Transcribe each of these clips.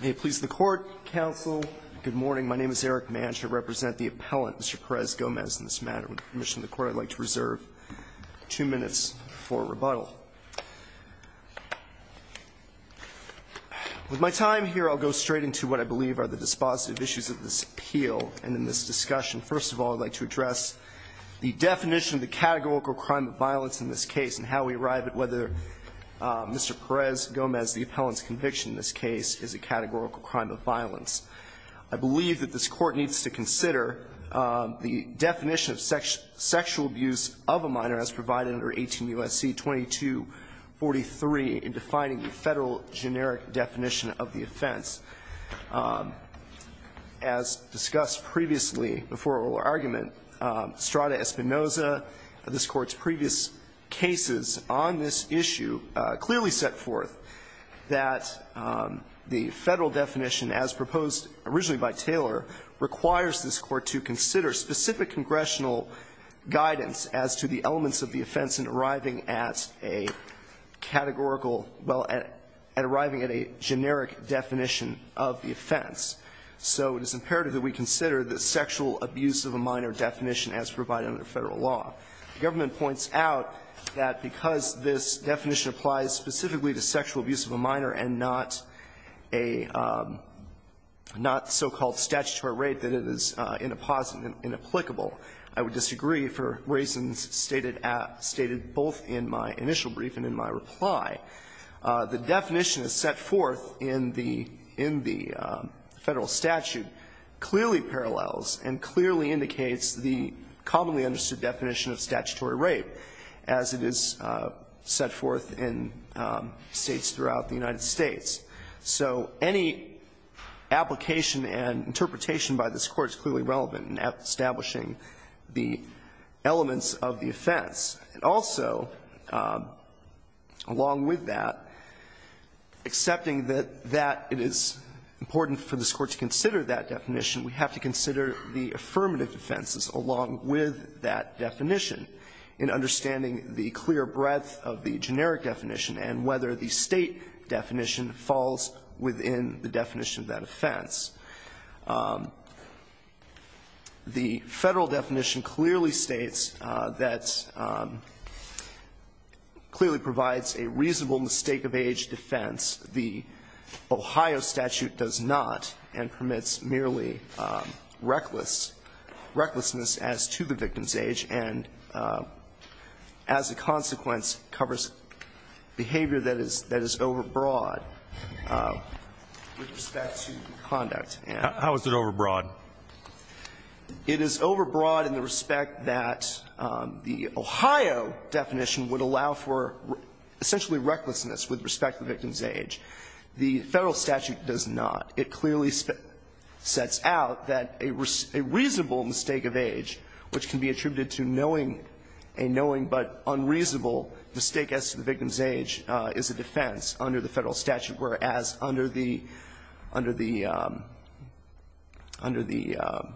May it please the Court, Counsel. Good morning. My name is Eric Manch. I represent the appellant, Mr. Perez-Gomez, in this matter. With permission of the Court, I'd like to reserve two minutes for rebuttal. With my time here, I'll go straight into what I believe are the dispositive issues of this appeal and in this discussion. First of all, I'd like to address the definition of the categorical crime of violence in this case and how we arrive at whether Mr. Perez-Gomez, the appellant's conviction in this case, is a categorical crime of violence. I believe that this Court needs to consider the definition of sexual abuse of a minor as provided under 18 U.S.C. 2243 in defining the Federal generic definition of the offense. As discussed previously before oral argument, Strada Espinoza, this Court's previous cases on this issue clearly set forth that the Federal definition, as proposed originally by Taylor, requires this Court to consider specific congressional guidance as to the elements of the offense in arriving at a categorical – well, at arriving at a generic definition of the offense. So it is imperative that we consider the sexual abuse of a minor definition as provided under Federal law. The government points out that because this definition applies specifically to sexual abuse of a minor and not a – not so-called statutory rate that it is inapplicable, I would disagree for reasons stated at – stated both in my initial brief and in my reply. The definition set forth in the Federal statute clearly parallels and clearly indicates the commonly understood definition of statutory rate as it is set forth in States throughout the United States. So any application and interpretation by this Court is clearly relevant in establishing the elements of the offense. And also, along with that, accepting that that it is important for this Court to consider that definition, we have to consider the affirmative defenses along with that definition in understanding the clear breadth of the generic definition and whether the State definition falls within the definition of that offense. The Federal definition clearly states that – clearly provides a reasonable mistake-of-age defense. The Ohio statute does not and permits merely reckless – recklessness as to the victim's age and, as a consequence, covers behavior that is – that is overbroad with respect to conduct and – How is it overbroad? It is overbroad in the respect that the Ohio definition would allow for essentially recklessness with respect to the victim's age. The Federal statute does not. It clearly sets out that a reasonable mistake-of-age, which can be attributed to knowing a knowing but unreasonable mistake as to the victim's age, is a defense under the Federal statute, whereas under the – under the – under the Ohio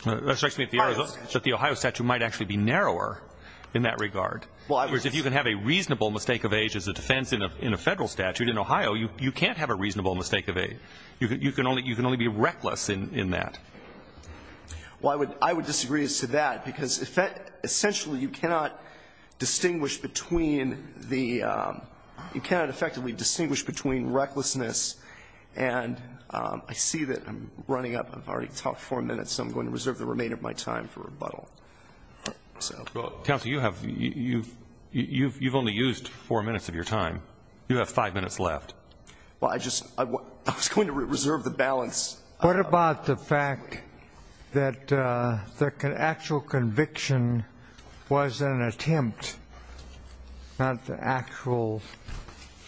statute. That strikes me that the Ohio statute might actually be narrower in that regard. Well, I was – In other words, if you can have a reasonable mistake-of-age as a defense in a Federal statute, in Ohio you can't have a reasonable mistake-of-age. You can only – you can only be reckless in that. Well, I would – I would disagree as to that, because essentially you cannot distinguish between the – you cannot effectively distinguish between recklessness and – I see that I'm running up. I've already talked four minutes, so I'm going to reserve the remainder of my time for rebuttal. Well, counsel, you have – you've only used four minutes of your time. You have five minutes left. Well, I just – I was going to reserve the balance. What about the fact that the actual conviction was an attempt, not the actual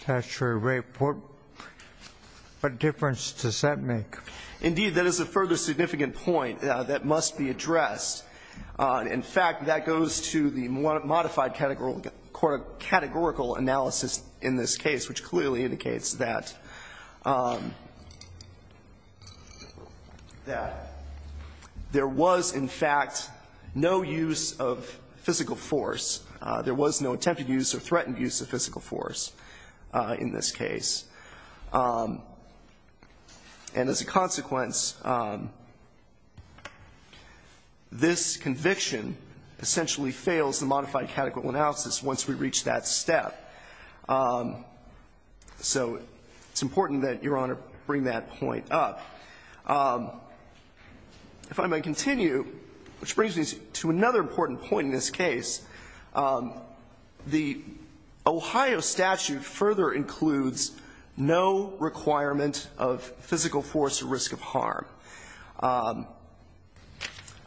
statutory rape? What difference does that make? Indeed, that is a further significant point that must be addressed. In fact, that goes to the modified categorical analysis in this case, which clearly indicates that – that there was, in fact, no use of physical force. There was no attempted use or threatened use of physical force in this case. And as a consequence, this conviction essentially fails the modified categorical analysis once we reach that step. So it's important that Your Honor bring that point up. If I may continue, which brings me to another important point in this case, the Ohio statute further includes no requirement of physical force or risk of harm. I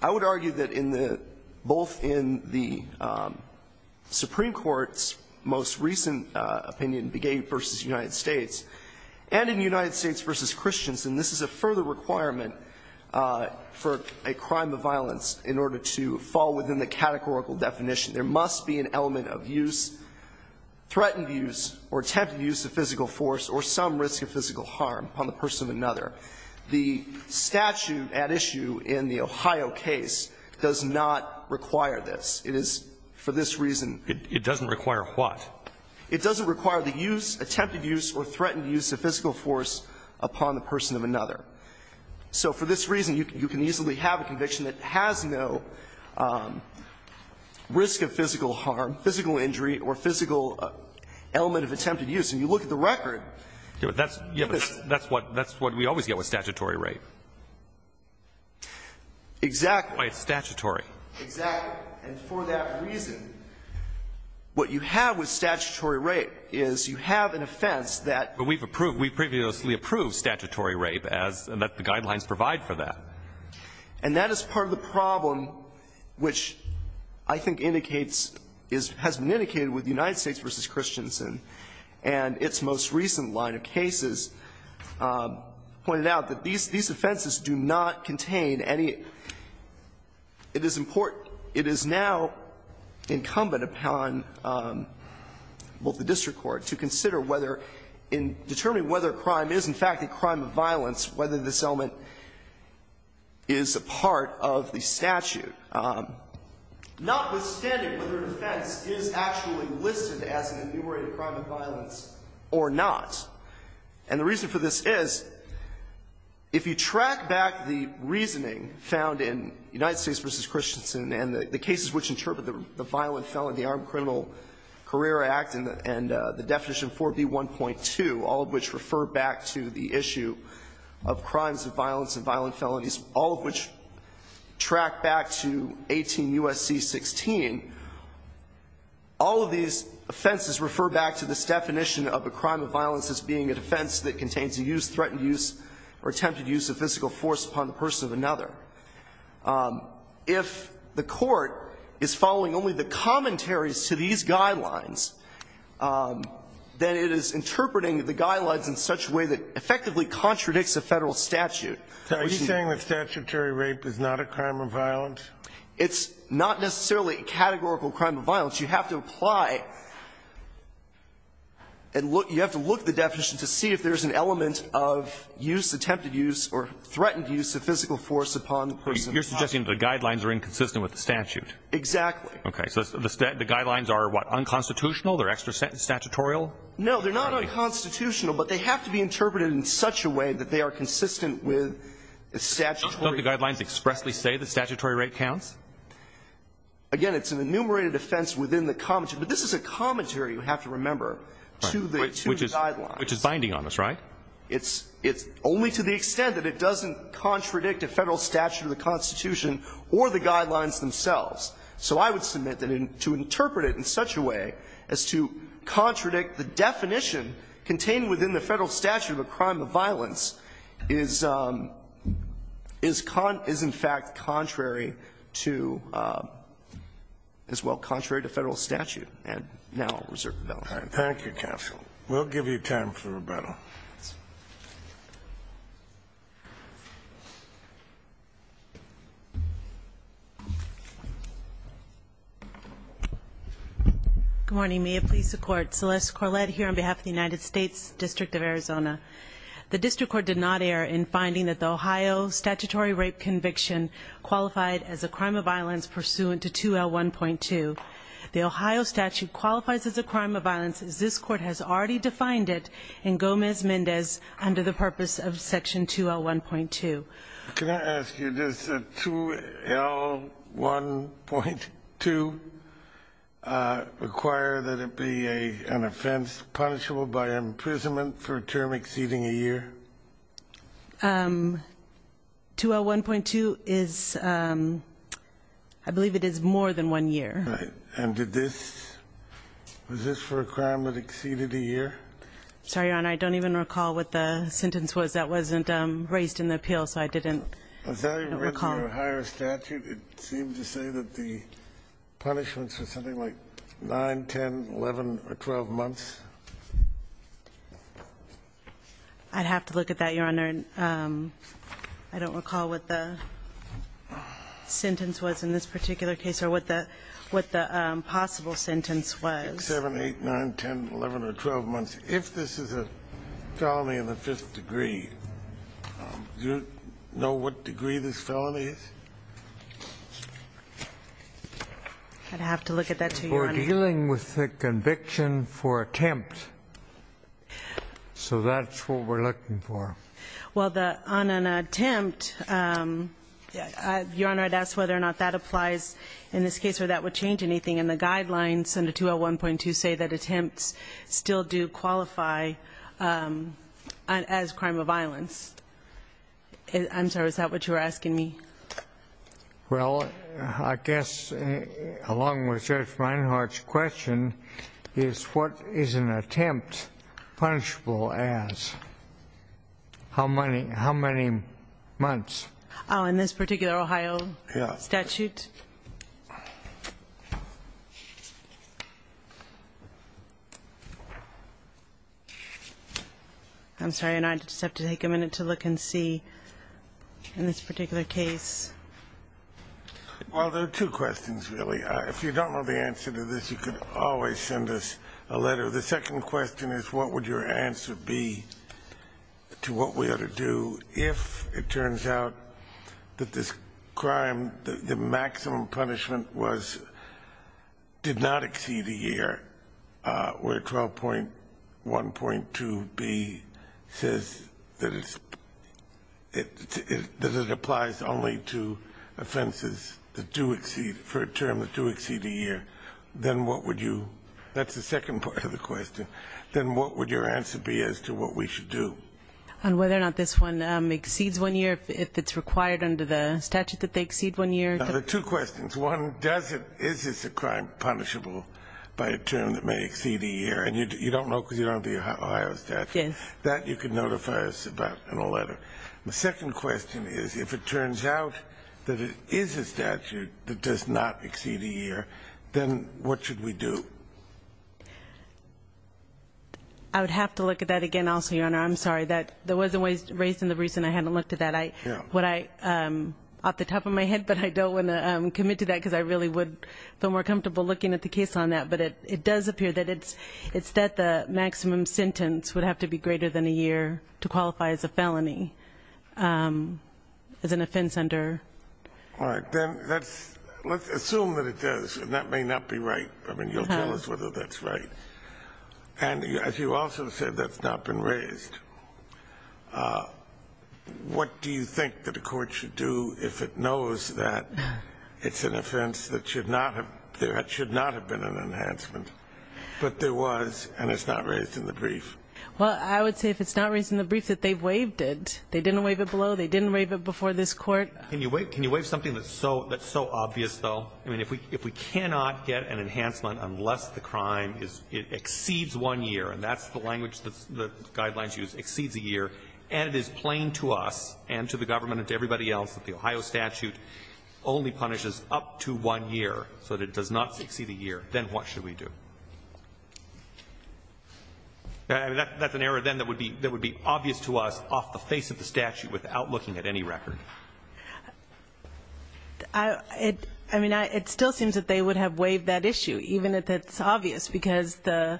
would argue that in the – both in the Supreme Court's most recent opinion, Begay v. United States, and in United States v. Christians, and this is a further requirement for a crime of violence in order to fall within the categorical definition, there must be an element of use, threatened use or attempted use of physical force or some risk of physical harm upon the person of another. The statute at issue in the Ohio case does not require this. It is for this reason – It doesn't require what? It doesn't require the use, attempted use or threatened use of physical force upon the person of another. So for this reason, you can easily have a conviction that has no risk of physical harm, physical injury or physical element of attempted use. And you look at the record. That's what we always get with statutory rape. Exactly. It's statutory. Exactly. And for that reason, what you have with statutory rape is you have an offense that – But we've previously approved statutory rape as the guidelines provide for that. And that is part of the problem which I think indicates – has been indicated with United States v. Christians and its most recent line of cases pointed out that these offenses do not contain any – it is important – it is now incumbent upon both the district court to consider whether in determining whether a crime is in fact a crime of violence, whether this element is a part of the statute, notwithstanding whether an offense is actually listed as an enumerated crime of violence or not. And the reason for this is if you track back the reasoning found in United States v. Christiansen and the cases which interpret the violent felon, the Armed Criminal Career Act and the definition 4B1.2, all of which refer back to the issue of crimes of violence and violent felonies, all of which track back to 18 U.S.C. 16, all of these offenses refer back to this definition of a crime of violence as being a defense that contains the use, threatened use, or attempted use of physical force upon the person of another. If the court is following only the commentaries to these guidelines, then it is interpreting the guidelines in such a way that effectively contradicts a Federal statute. Are you saying that statutory rape is not a crime of violence? It's not necessarily a categorical crime of violence. You have to apply and look – you have to look at the definition to see if there is an element of use, attempted use, or threatened use of physical force upon the person of the other. You're suggesting that the guidelines are inconsistent with the statute. Exactly. Okay. So the guidelines are, what, unconstitutional? They're extra-statutorial? No, they're not unconstitutional, but they have to be interpreted in such a way that they are consistent with the statutory. Don't the guidelines expressly say that statutory rape counts? Again, it's an enumerated offense within the commentary. But this is a commentary, you have to remember, to the two guidelines. Right. Which is binding on us, right? It's only to the extent that it doesn't contradict a Federal statute or the Constitution or the guidelines themselves. So I would submit that to interpret it in such a way as to contradict the definition contained within the Federal statute of a crime of violence is in fact contrary to, as well, contrary to Federal statute, and now I'll reserve the balance. Thank you, counsel. We'll give you time for rebuttal. Good morning. May it please the Court. Celeste Corlett here on behalf of the United States District of Arizona. The district court did not err in finding that the Ohio statutory rape conviction qualified as a crime of violence pursuant to 2L1.2. The Ohio statute qualifies as a crime of violence as this Court has already defined it in Gomez-Mendez under the purpose of Section 2L1.2. Can I ask you, does 2L1.2 require that it be an offense punishable by imprisonment for a term exceeding a year? 2L1.2 is, I believe it is more than one year. Right. And did this, was this for a crime that exceeded a year? Sorry, Your Honor, I don't even recall what the sentence was. That wasn't raised in the appeal, so I didn't recall. Was that written in the Ohio statute? It seemed to say that the punishments were something like 9, 10, 11, or 12 months. I'd have to look at that, Your Honor. I don't recall what the sentence was in this particular case or what the possible sentence was. 6, 7, 8, 9, 10, 11, or 12 months. If this is a felony in the fifth degree, do you know what degree this felony is? I'd have to look at that, too, Your Honor. We're dealing with the conviction for attempt, so that's what we're looking for. Well, on an attempt, Your Honor, I'd ask whether or not that applies in this case or that would change anything. And the guidelines under 201.2 say that attempts still do qualify as crime of violence. I'm sorry, is that what you were asking me? Well, I guess, along with Judge Reinhart's question, is what is an attempt punishable as? How many months? Oh, in this particular Ohio statute? Yeah. I'm sorry, Your Honor, I just have to take a minute to look and see in this particular case. Well, there are two questions, really. If you don't know the answer to this, you can always send us a letter. The second question is what would your answer be to what we ought to do if it turns out that this crime, the maximum punishment was, did not exceed a year, where 12.1.2b says that it applies only to offenses that do exceed, for a term that do exceed a year, then what would you, that's the second part of the question, then what would your answer be as to what we should do? On whether or not this one exceeds one year, if it's required under the statute that they exceed one year? Now, there are two questions. One, does it, is this a crime punishable by a term that may exceed a year? And you don't know because you don't have the Ohio statute. Yes. That you can notify us about in a letter. The second question is if it turns out that it is a statute that does not exceed a year, then what should we do? I would have to look at that again also, Your Honor. I'm sorry. That wasn't raised in the reason I hadn't looked at that. Yeah. What I, off the top of my head, but I don't want to commit to that because I really would feel more comfortable looking at the case on that. But it does appear that it's that the maximum sentence would have to be greater than a year to qualify as a felony, as an offense under. All right. Then let's assume that it does, and that may not be right. I mean, you'll tell us whether that's right. And as you also said, that's not been raised. What do you think that a court should do if it knows that it's an offense that should not have been an enhancement, but there was and it's not raised in the brief? Well, I would say if it's not raised in the brief that they've waived it. They didn't waive it below. They didn't waive it before this Court. Can you waive something that's so obvious, though? I mean, if we cannot get an enhancement unless the crime exceeds one year, and that's the language that the guidelines use, exceeds a year, and it is plain to us and to the government and to everybody else that the Ohio statute only punishes up to one year so that it does not exceed a year, then what should we do? That's an error then that would be obvious to us off the face of the statute without looking at any record. I mean, it still seems that they would have waived that issue, even if it's obvious, because the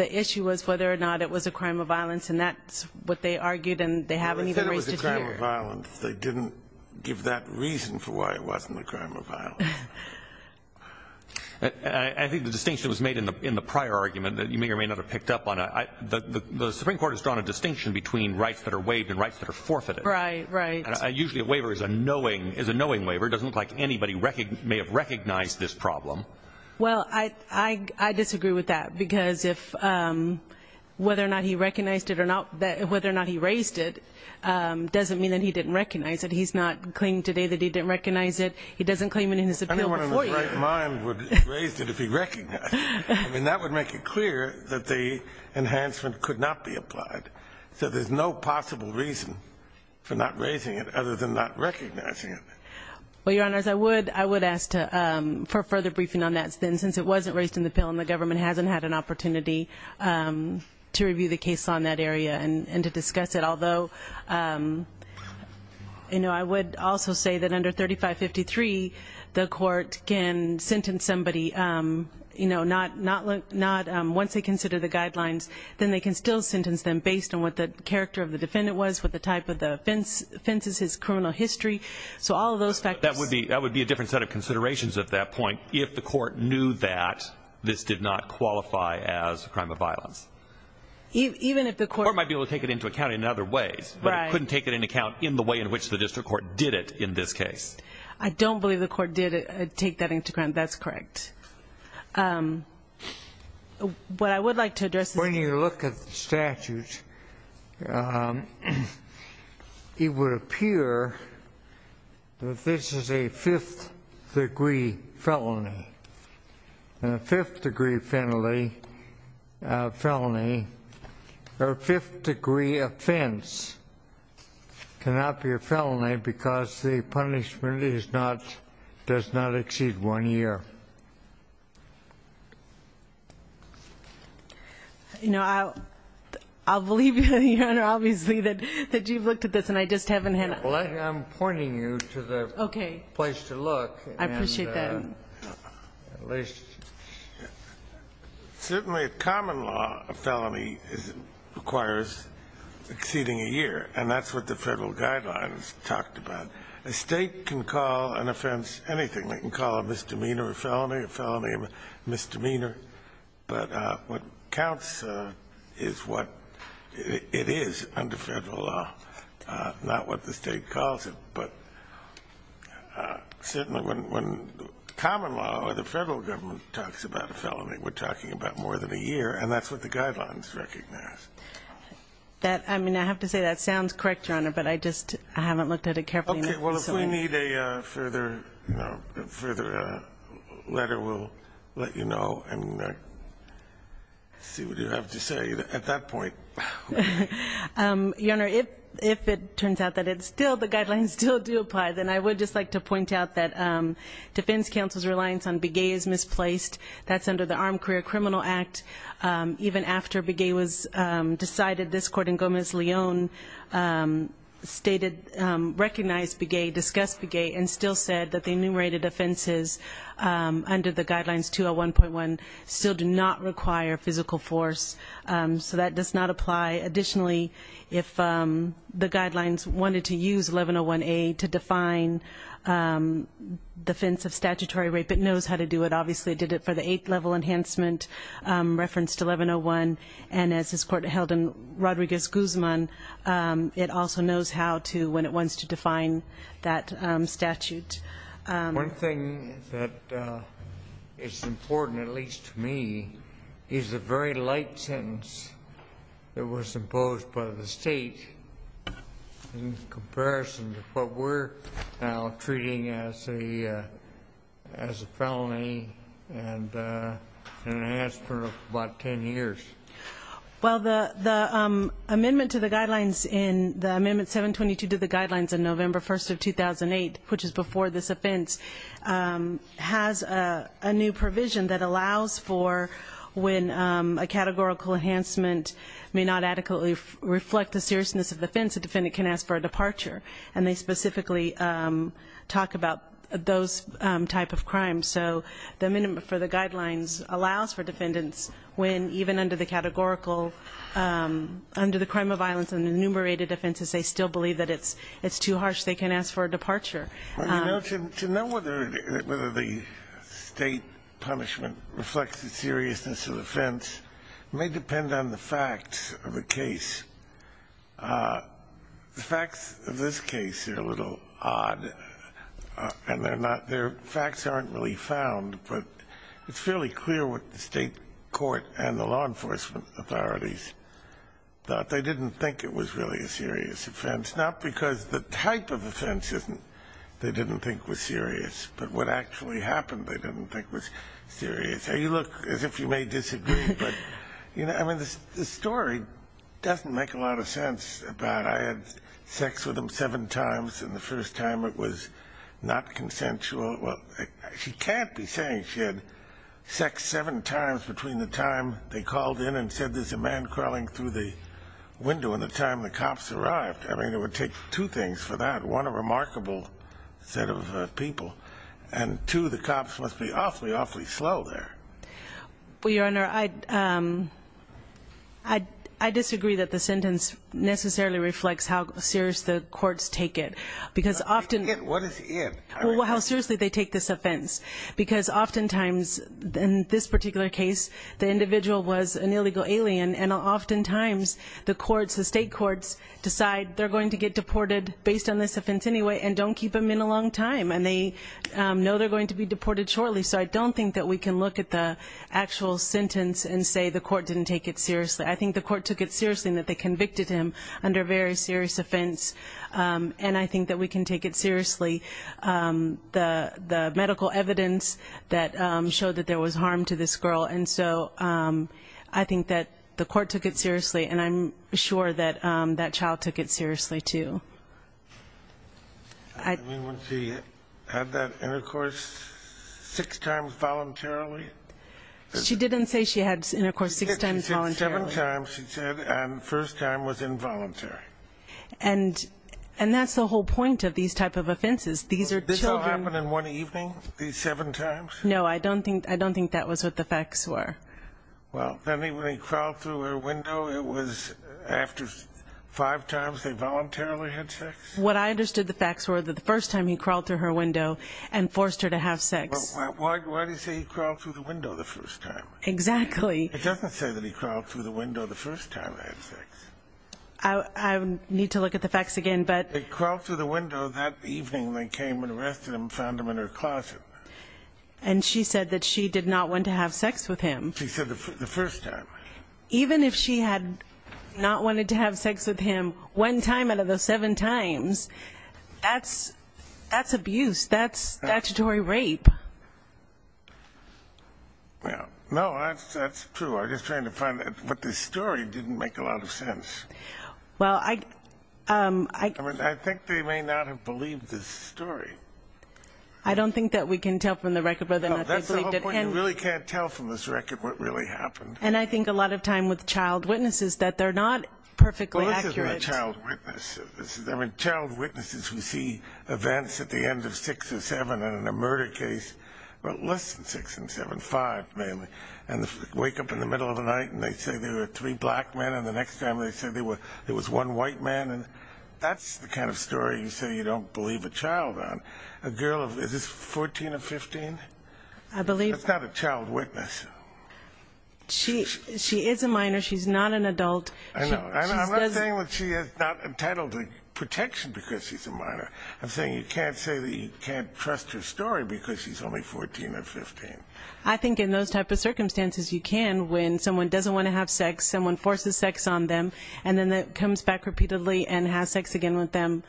issue was whether or not it was a crime of violence, and that's what they argued and they haven't even raised it here. Well, they said it was a crime of violence. They didn't give that reason for why it wasn't a crime of violence. I think the distinction was made in the prior argument that you may or may not have picked up on. The Supreme Court has drawn a distinction between rights that are waived and rights that are forfeited. Right, right. Usually a waiver is a knowing waiver. It doesn't look like anybody may have recognized this problem. Well, I disagree with that because whether or not he raised it doesn't mean that he didn't recognize it. He's not claiming today that he didn't recognize it. He doesn't claim it in his appeal before you. Anyone in his right mind would have raised it if he recognized it. I mean, that would make it clear that the enhancement could not be applied. So there's no possible reason for not raising it other than not recognizing it. Well, Your Honors, I would ask for further briefing on that since it wasn't raised in the bill and the government hasn't had an opportunity to review the case on that area and to discuss it. I would also say that under 3553 the court can sentence somebody not once they consider the guidelines, then they can still sentence them based on what the character of the defendant was, what the type of offense is, his criminal history. So all of those factors. That would be a different set of considerations at that point if the court knew that this did not qualify as a crime of violence. The court might be able to take it into account in other ways, but it couldn't take it into account in the way in which the district court did it in this case. I don't believe the court did take that into account. That's correct. What I would like to address is... When you look at the statute, it would appear that this is a fifth degree felony. A fifth degree felony or a fifth degree offense cannot be a felony because the punishment does not exceed one year. I believe, Your Honor, obviously, that you've looked at this and I just haven't had a... I'm pointing you to the place to look. I appreciate that. Certainly, a common law, a felony requires exceeding a year, and that's what the Federal Guidelines talked about. A State can call an offense anything. They can call a misdemeanor a felony, a felony a misdemeanor. But what counts is what it is under Federal law, not what the State calls it. Certainly, when common law or the Federal government talks about a felony, we're talking about more than a year, and that's what the Guidelines recognize. I mean, I have to say that sounds correct, Your Honor, but I just haven't looked at it carefully. Okay. Well, if we need a further letter, we'll let you know and see what you have to say at that point. Your Honor, if it turns out that the Guidelines still do apply, then I would just like to point out that Defense Counsel's reliance on beguet is misplaced. That's under the Armed Career Criminal Act. Even after beguet was decided, this Court in Gomez-Leon recognized beguet, discussed beguet, and still said that the enumerated offenses under the Guidelines 201.1 still do not require physical force. So that does not apply. Additionally, if the Guidelines wanted to use 1101A to define defense of statutory rape, it knows how to do it. Obviously, it did it for the eighth-level enhancement reference to 1101, and as this Court held in Rodriguez-Guzman, it also knows how to when it wants to define that statute. One thing that is important, at least to me, is the very light sentence that was imposed by the State in comparison to what we're now treating as a felony and an enhancement of about 10 years. Well, the amendment to the Guidelines in the Amendment 722 to the Guidelines in November 1st of 2008, which is before this offense, has a new provision that allows for when a categorical enhancement may not adequately reflect the seriousness of the offense, a defendant can ask for a departure. And they specifically talk about those type of crimes. So the amendment for the Guidelines allows for defendants when, even under the categorical, under the crime of violence and the enumerated offenses, they still believe that it's too harsh, they can ask for a departure. To know whether the State punishment reflects the seriousness of the offense may depend on the facts of the case. The facts of this case are a little odd, and their facts aren't really found, but it's fairly clear what the State court and the law enforcement authorities thought. They didn't think it was really a serious offense, not because the type of offense they didn't think was serious, but what actually happened they didn't think was serious. You look as if you may disagree, but, you know, I mean, this story doesn't make a lot of sense. I had sex with him seven times, and the first time it was not consensual. She can't be saying she had sex seven times between the time they called in and said there's a man crawling through the window and the time the cops arrived. I mean, it would take two things for that. One, a remarkable set of people, and two, the cops must be awfully, awfully slow there. Well, Your Honor, I disagree that the sentence necessarily reflects how serious the courts take it, because often- What is it? Well, how seriously they take this offense, because oftentimes in this particular case the individual was an illegal alien, and oftentimes the courts, the State courts decide they're going to get deported based on this offense anyway and don't keep them in a long time, and they know they're going to be deported shortly. So I don't think that we can look at the actual sentence and say the court didn't take it seriously. I think the court took it seriously in that they convicted him under a very serious offense, and I think that we can take it seriously, the medical evidence that showed that there was harm to this girl. And so I think that the court took it seriously, and I'm sure that that child took it seriously, too. I mean, when she had that intercourse six times voluntarily? She didn't say she had intercourse six times voluntarily. She said seven times, she said, and the first time was involuntary. And that's the whole point of these type of offenses. These are children- Well, did this all happen in one evening, these seven times? No, I don't think that was what the facts were. Well, then when he crawled through her window, it was after five times they voluntarily had sex? What I understood the facts were that the first time he crawled through her window and forced her to have sex. Well, why do you say he crawled through the window the first time? Exactly. It doesn't say that he crawled through the window the first time they had sex. I need to look at the facts again, but- They crawled through the window that evening when they came and arrested him and found him in her closet. And she said that she did not want to have sex with him. She said the first time. Even if she had not wanted to have sex with him one time out of those seven times, that's abuse. That's statutory rape. No, that's true. I'm just trying to find- But the story didn't make a lot of sense. Well, I- I think they may not have believed the story. I don't think that we can tell from the record whether or not they believed it. No, that's the whole point. You really can't tell from this record what really happened. And I think a lot of time with child witnesses that they're not perfectly accurate. Well, this isn't a child witness. I mean, child witnesses who see events at the end of six or seven in a murder case, well, less than six and seven, five mainly, and wake up in the middle of the night and they say there were three black men and the next time they say there was one white man. That's the kind of story you say you don't believe a child on. A girl of- Is this 14 or 15? I believe- That's not a child witness. She is a minor. She's not an adult. I know. I'm not saying that she is not entitled to protection because she's a minor. I'm saying you can't say that you can't trust her story because she's only 14 or 15. I think in those type of circumstances you can when someone doesn't want to have sex, someone forces sex on them, and then comes back repeatedly and has sex again with them.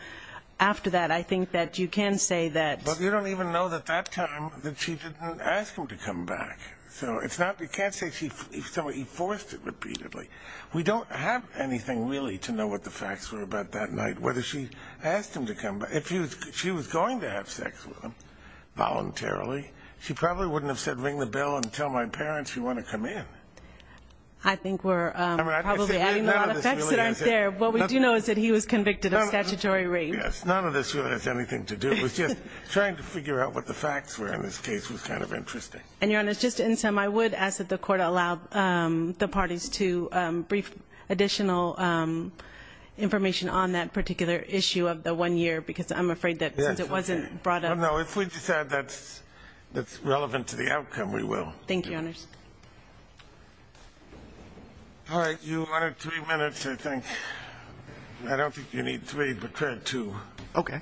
After that, I think that you can say that- But you don't even know at that time that she didn't ask him to come back. So it's not-you can't say he forced it repeatedly. We don't have anything really to know what the facts were about that night, whether she asked him to come back. If she was going to have sex with him voluntarily, she probably wouldn't have said, ring the bell and tell my parents you want to come in. I think we're probably adding a lot of facts that aren't there. What we do know is that he was convicted of statutory rape. None of this really has anything to do with this. Trying to figure out what the facts were in this case was kind of interesting. And, Your Honor, just to end some, I would ask that the Court allow the parties to brief additional information on that particular issue of the one year because I'm afraid that since it wasn't brought up- No, if we decide that's relevant to the outcome, we will. Thank you, Your Honor. All right. Your Honor, three minutes, I think. I don't think you need three, but try two. Okay.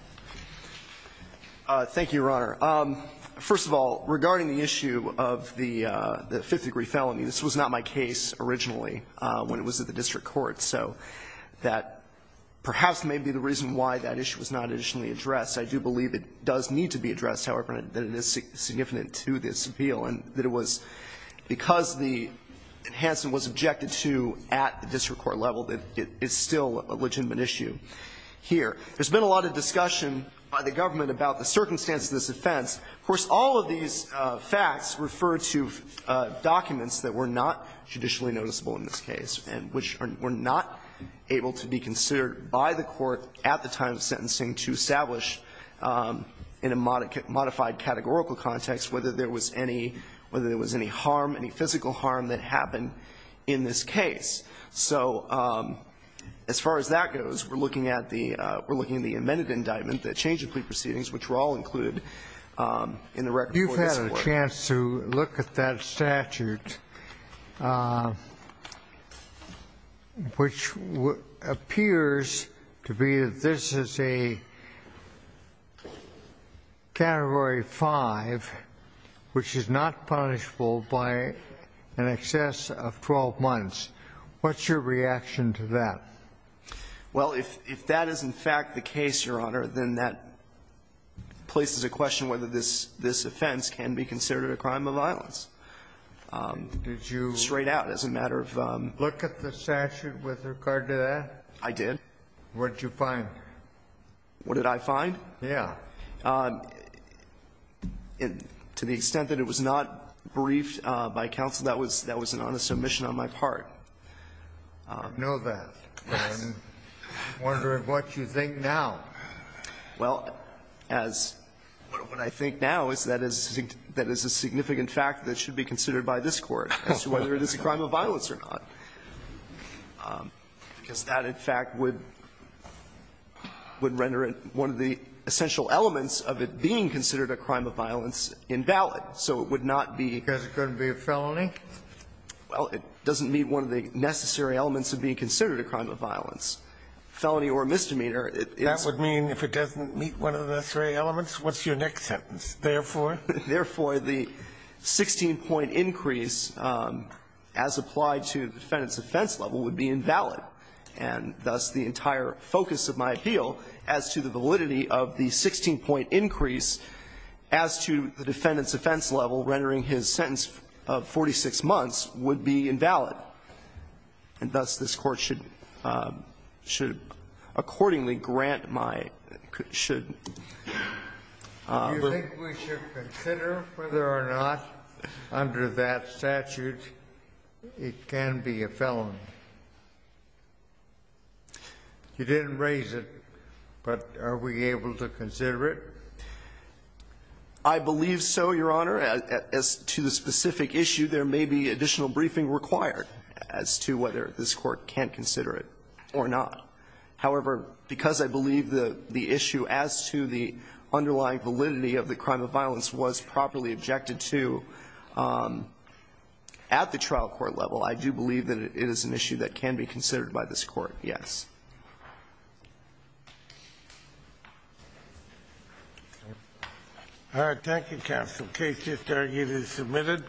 Thank you, Your Honor. First of all, regarding the issue of the fifth degree felony, this was not my case originally when it was at the district court. So that perhaps may be the reason why that issue was not additionally addressed. I do believe it does need to be addressed, however, that it is significant to this appeal and that it was because the enhancement was objected to at the district court level that it is still a legitimate issue here. There's been a lot of discussion by the government about the circumstances of this offense. Of course, all of these facts refer to documents that were not judicially noticeable in this case and which were not able to be considered by the Court at the time of sentencing to establish in a modified categorical context whether there was any harm, any physical harm that happened in this case. So as far as that goes, we're looking at the amended indictment, the change of plea proceedings, which were all included in the record for this Court. Sotomayor, you had a chance to look at that statute, which appears to be that this is a Category 5, which is not punishable by an excess of 12 months. What's your reaction to that? Well, if that is in fact the case, Your Honor, then that places a question on whether this offense can be considered a crime of violence. Did you look at the statute with regard to that? I did. What did you find? What did I find? Yes. To the extent that it was not briefed by counsel, that was an honest omission on my part. I know that. I'm wondering what you think now. Well, as what I think now is that is a significant fact that should be considered by this Court as to whether it is a crime of violence or not, because that, in fact, would render it one of the essential elements of it being considered a crime of violence invalid. So it would not be. Because it couldn't be a felony? Well, it doesn't meet one of the necessary elements of being considered a crime of violence. Felony or misdemeanor. That would mean if it doesn't meet one of the necessary elements, what's your next sentence? Therefore? Therefore, the 16-point increase as applied to the defendant's offense level would be invalid. And thus, the entire focus of my appeal as to the validity of the 16-point increase as to the defendant's offense level rendering his sentence of 46 months would be invalid. And thus, this Court should accordingly grant my ---- should. Do you think we should consider whether or not under that statute it can be a felony? You didn't raise it, but are we able to consider it? I believe so, Your Honor. As to the specific issue, there may be additional briefing required as to whether this Court can consider it or not. However, because I believe the issue as to the underlying validity of the crime of violence was properly objected to at the trial court level, I do believe that it is an issue that can be considered by this Court, yes. All right. Thank you, counsel. Case just argued is submitted.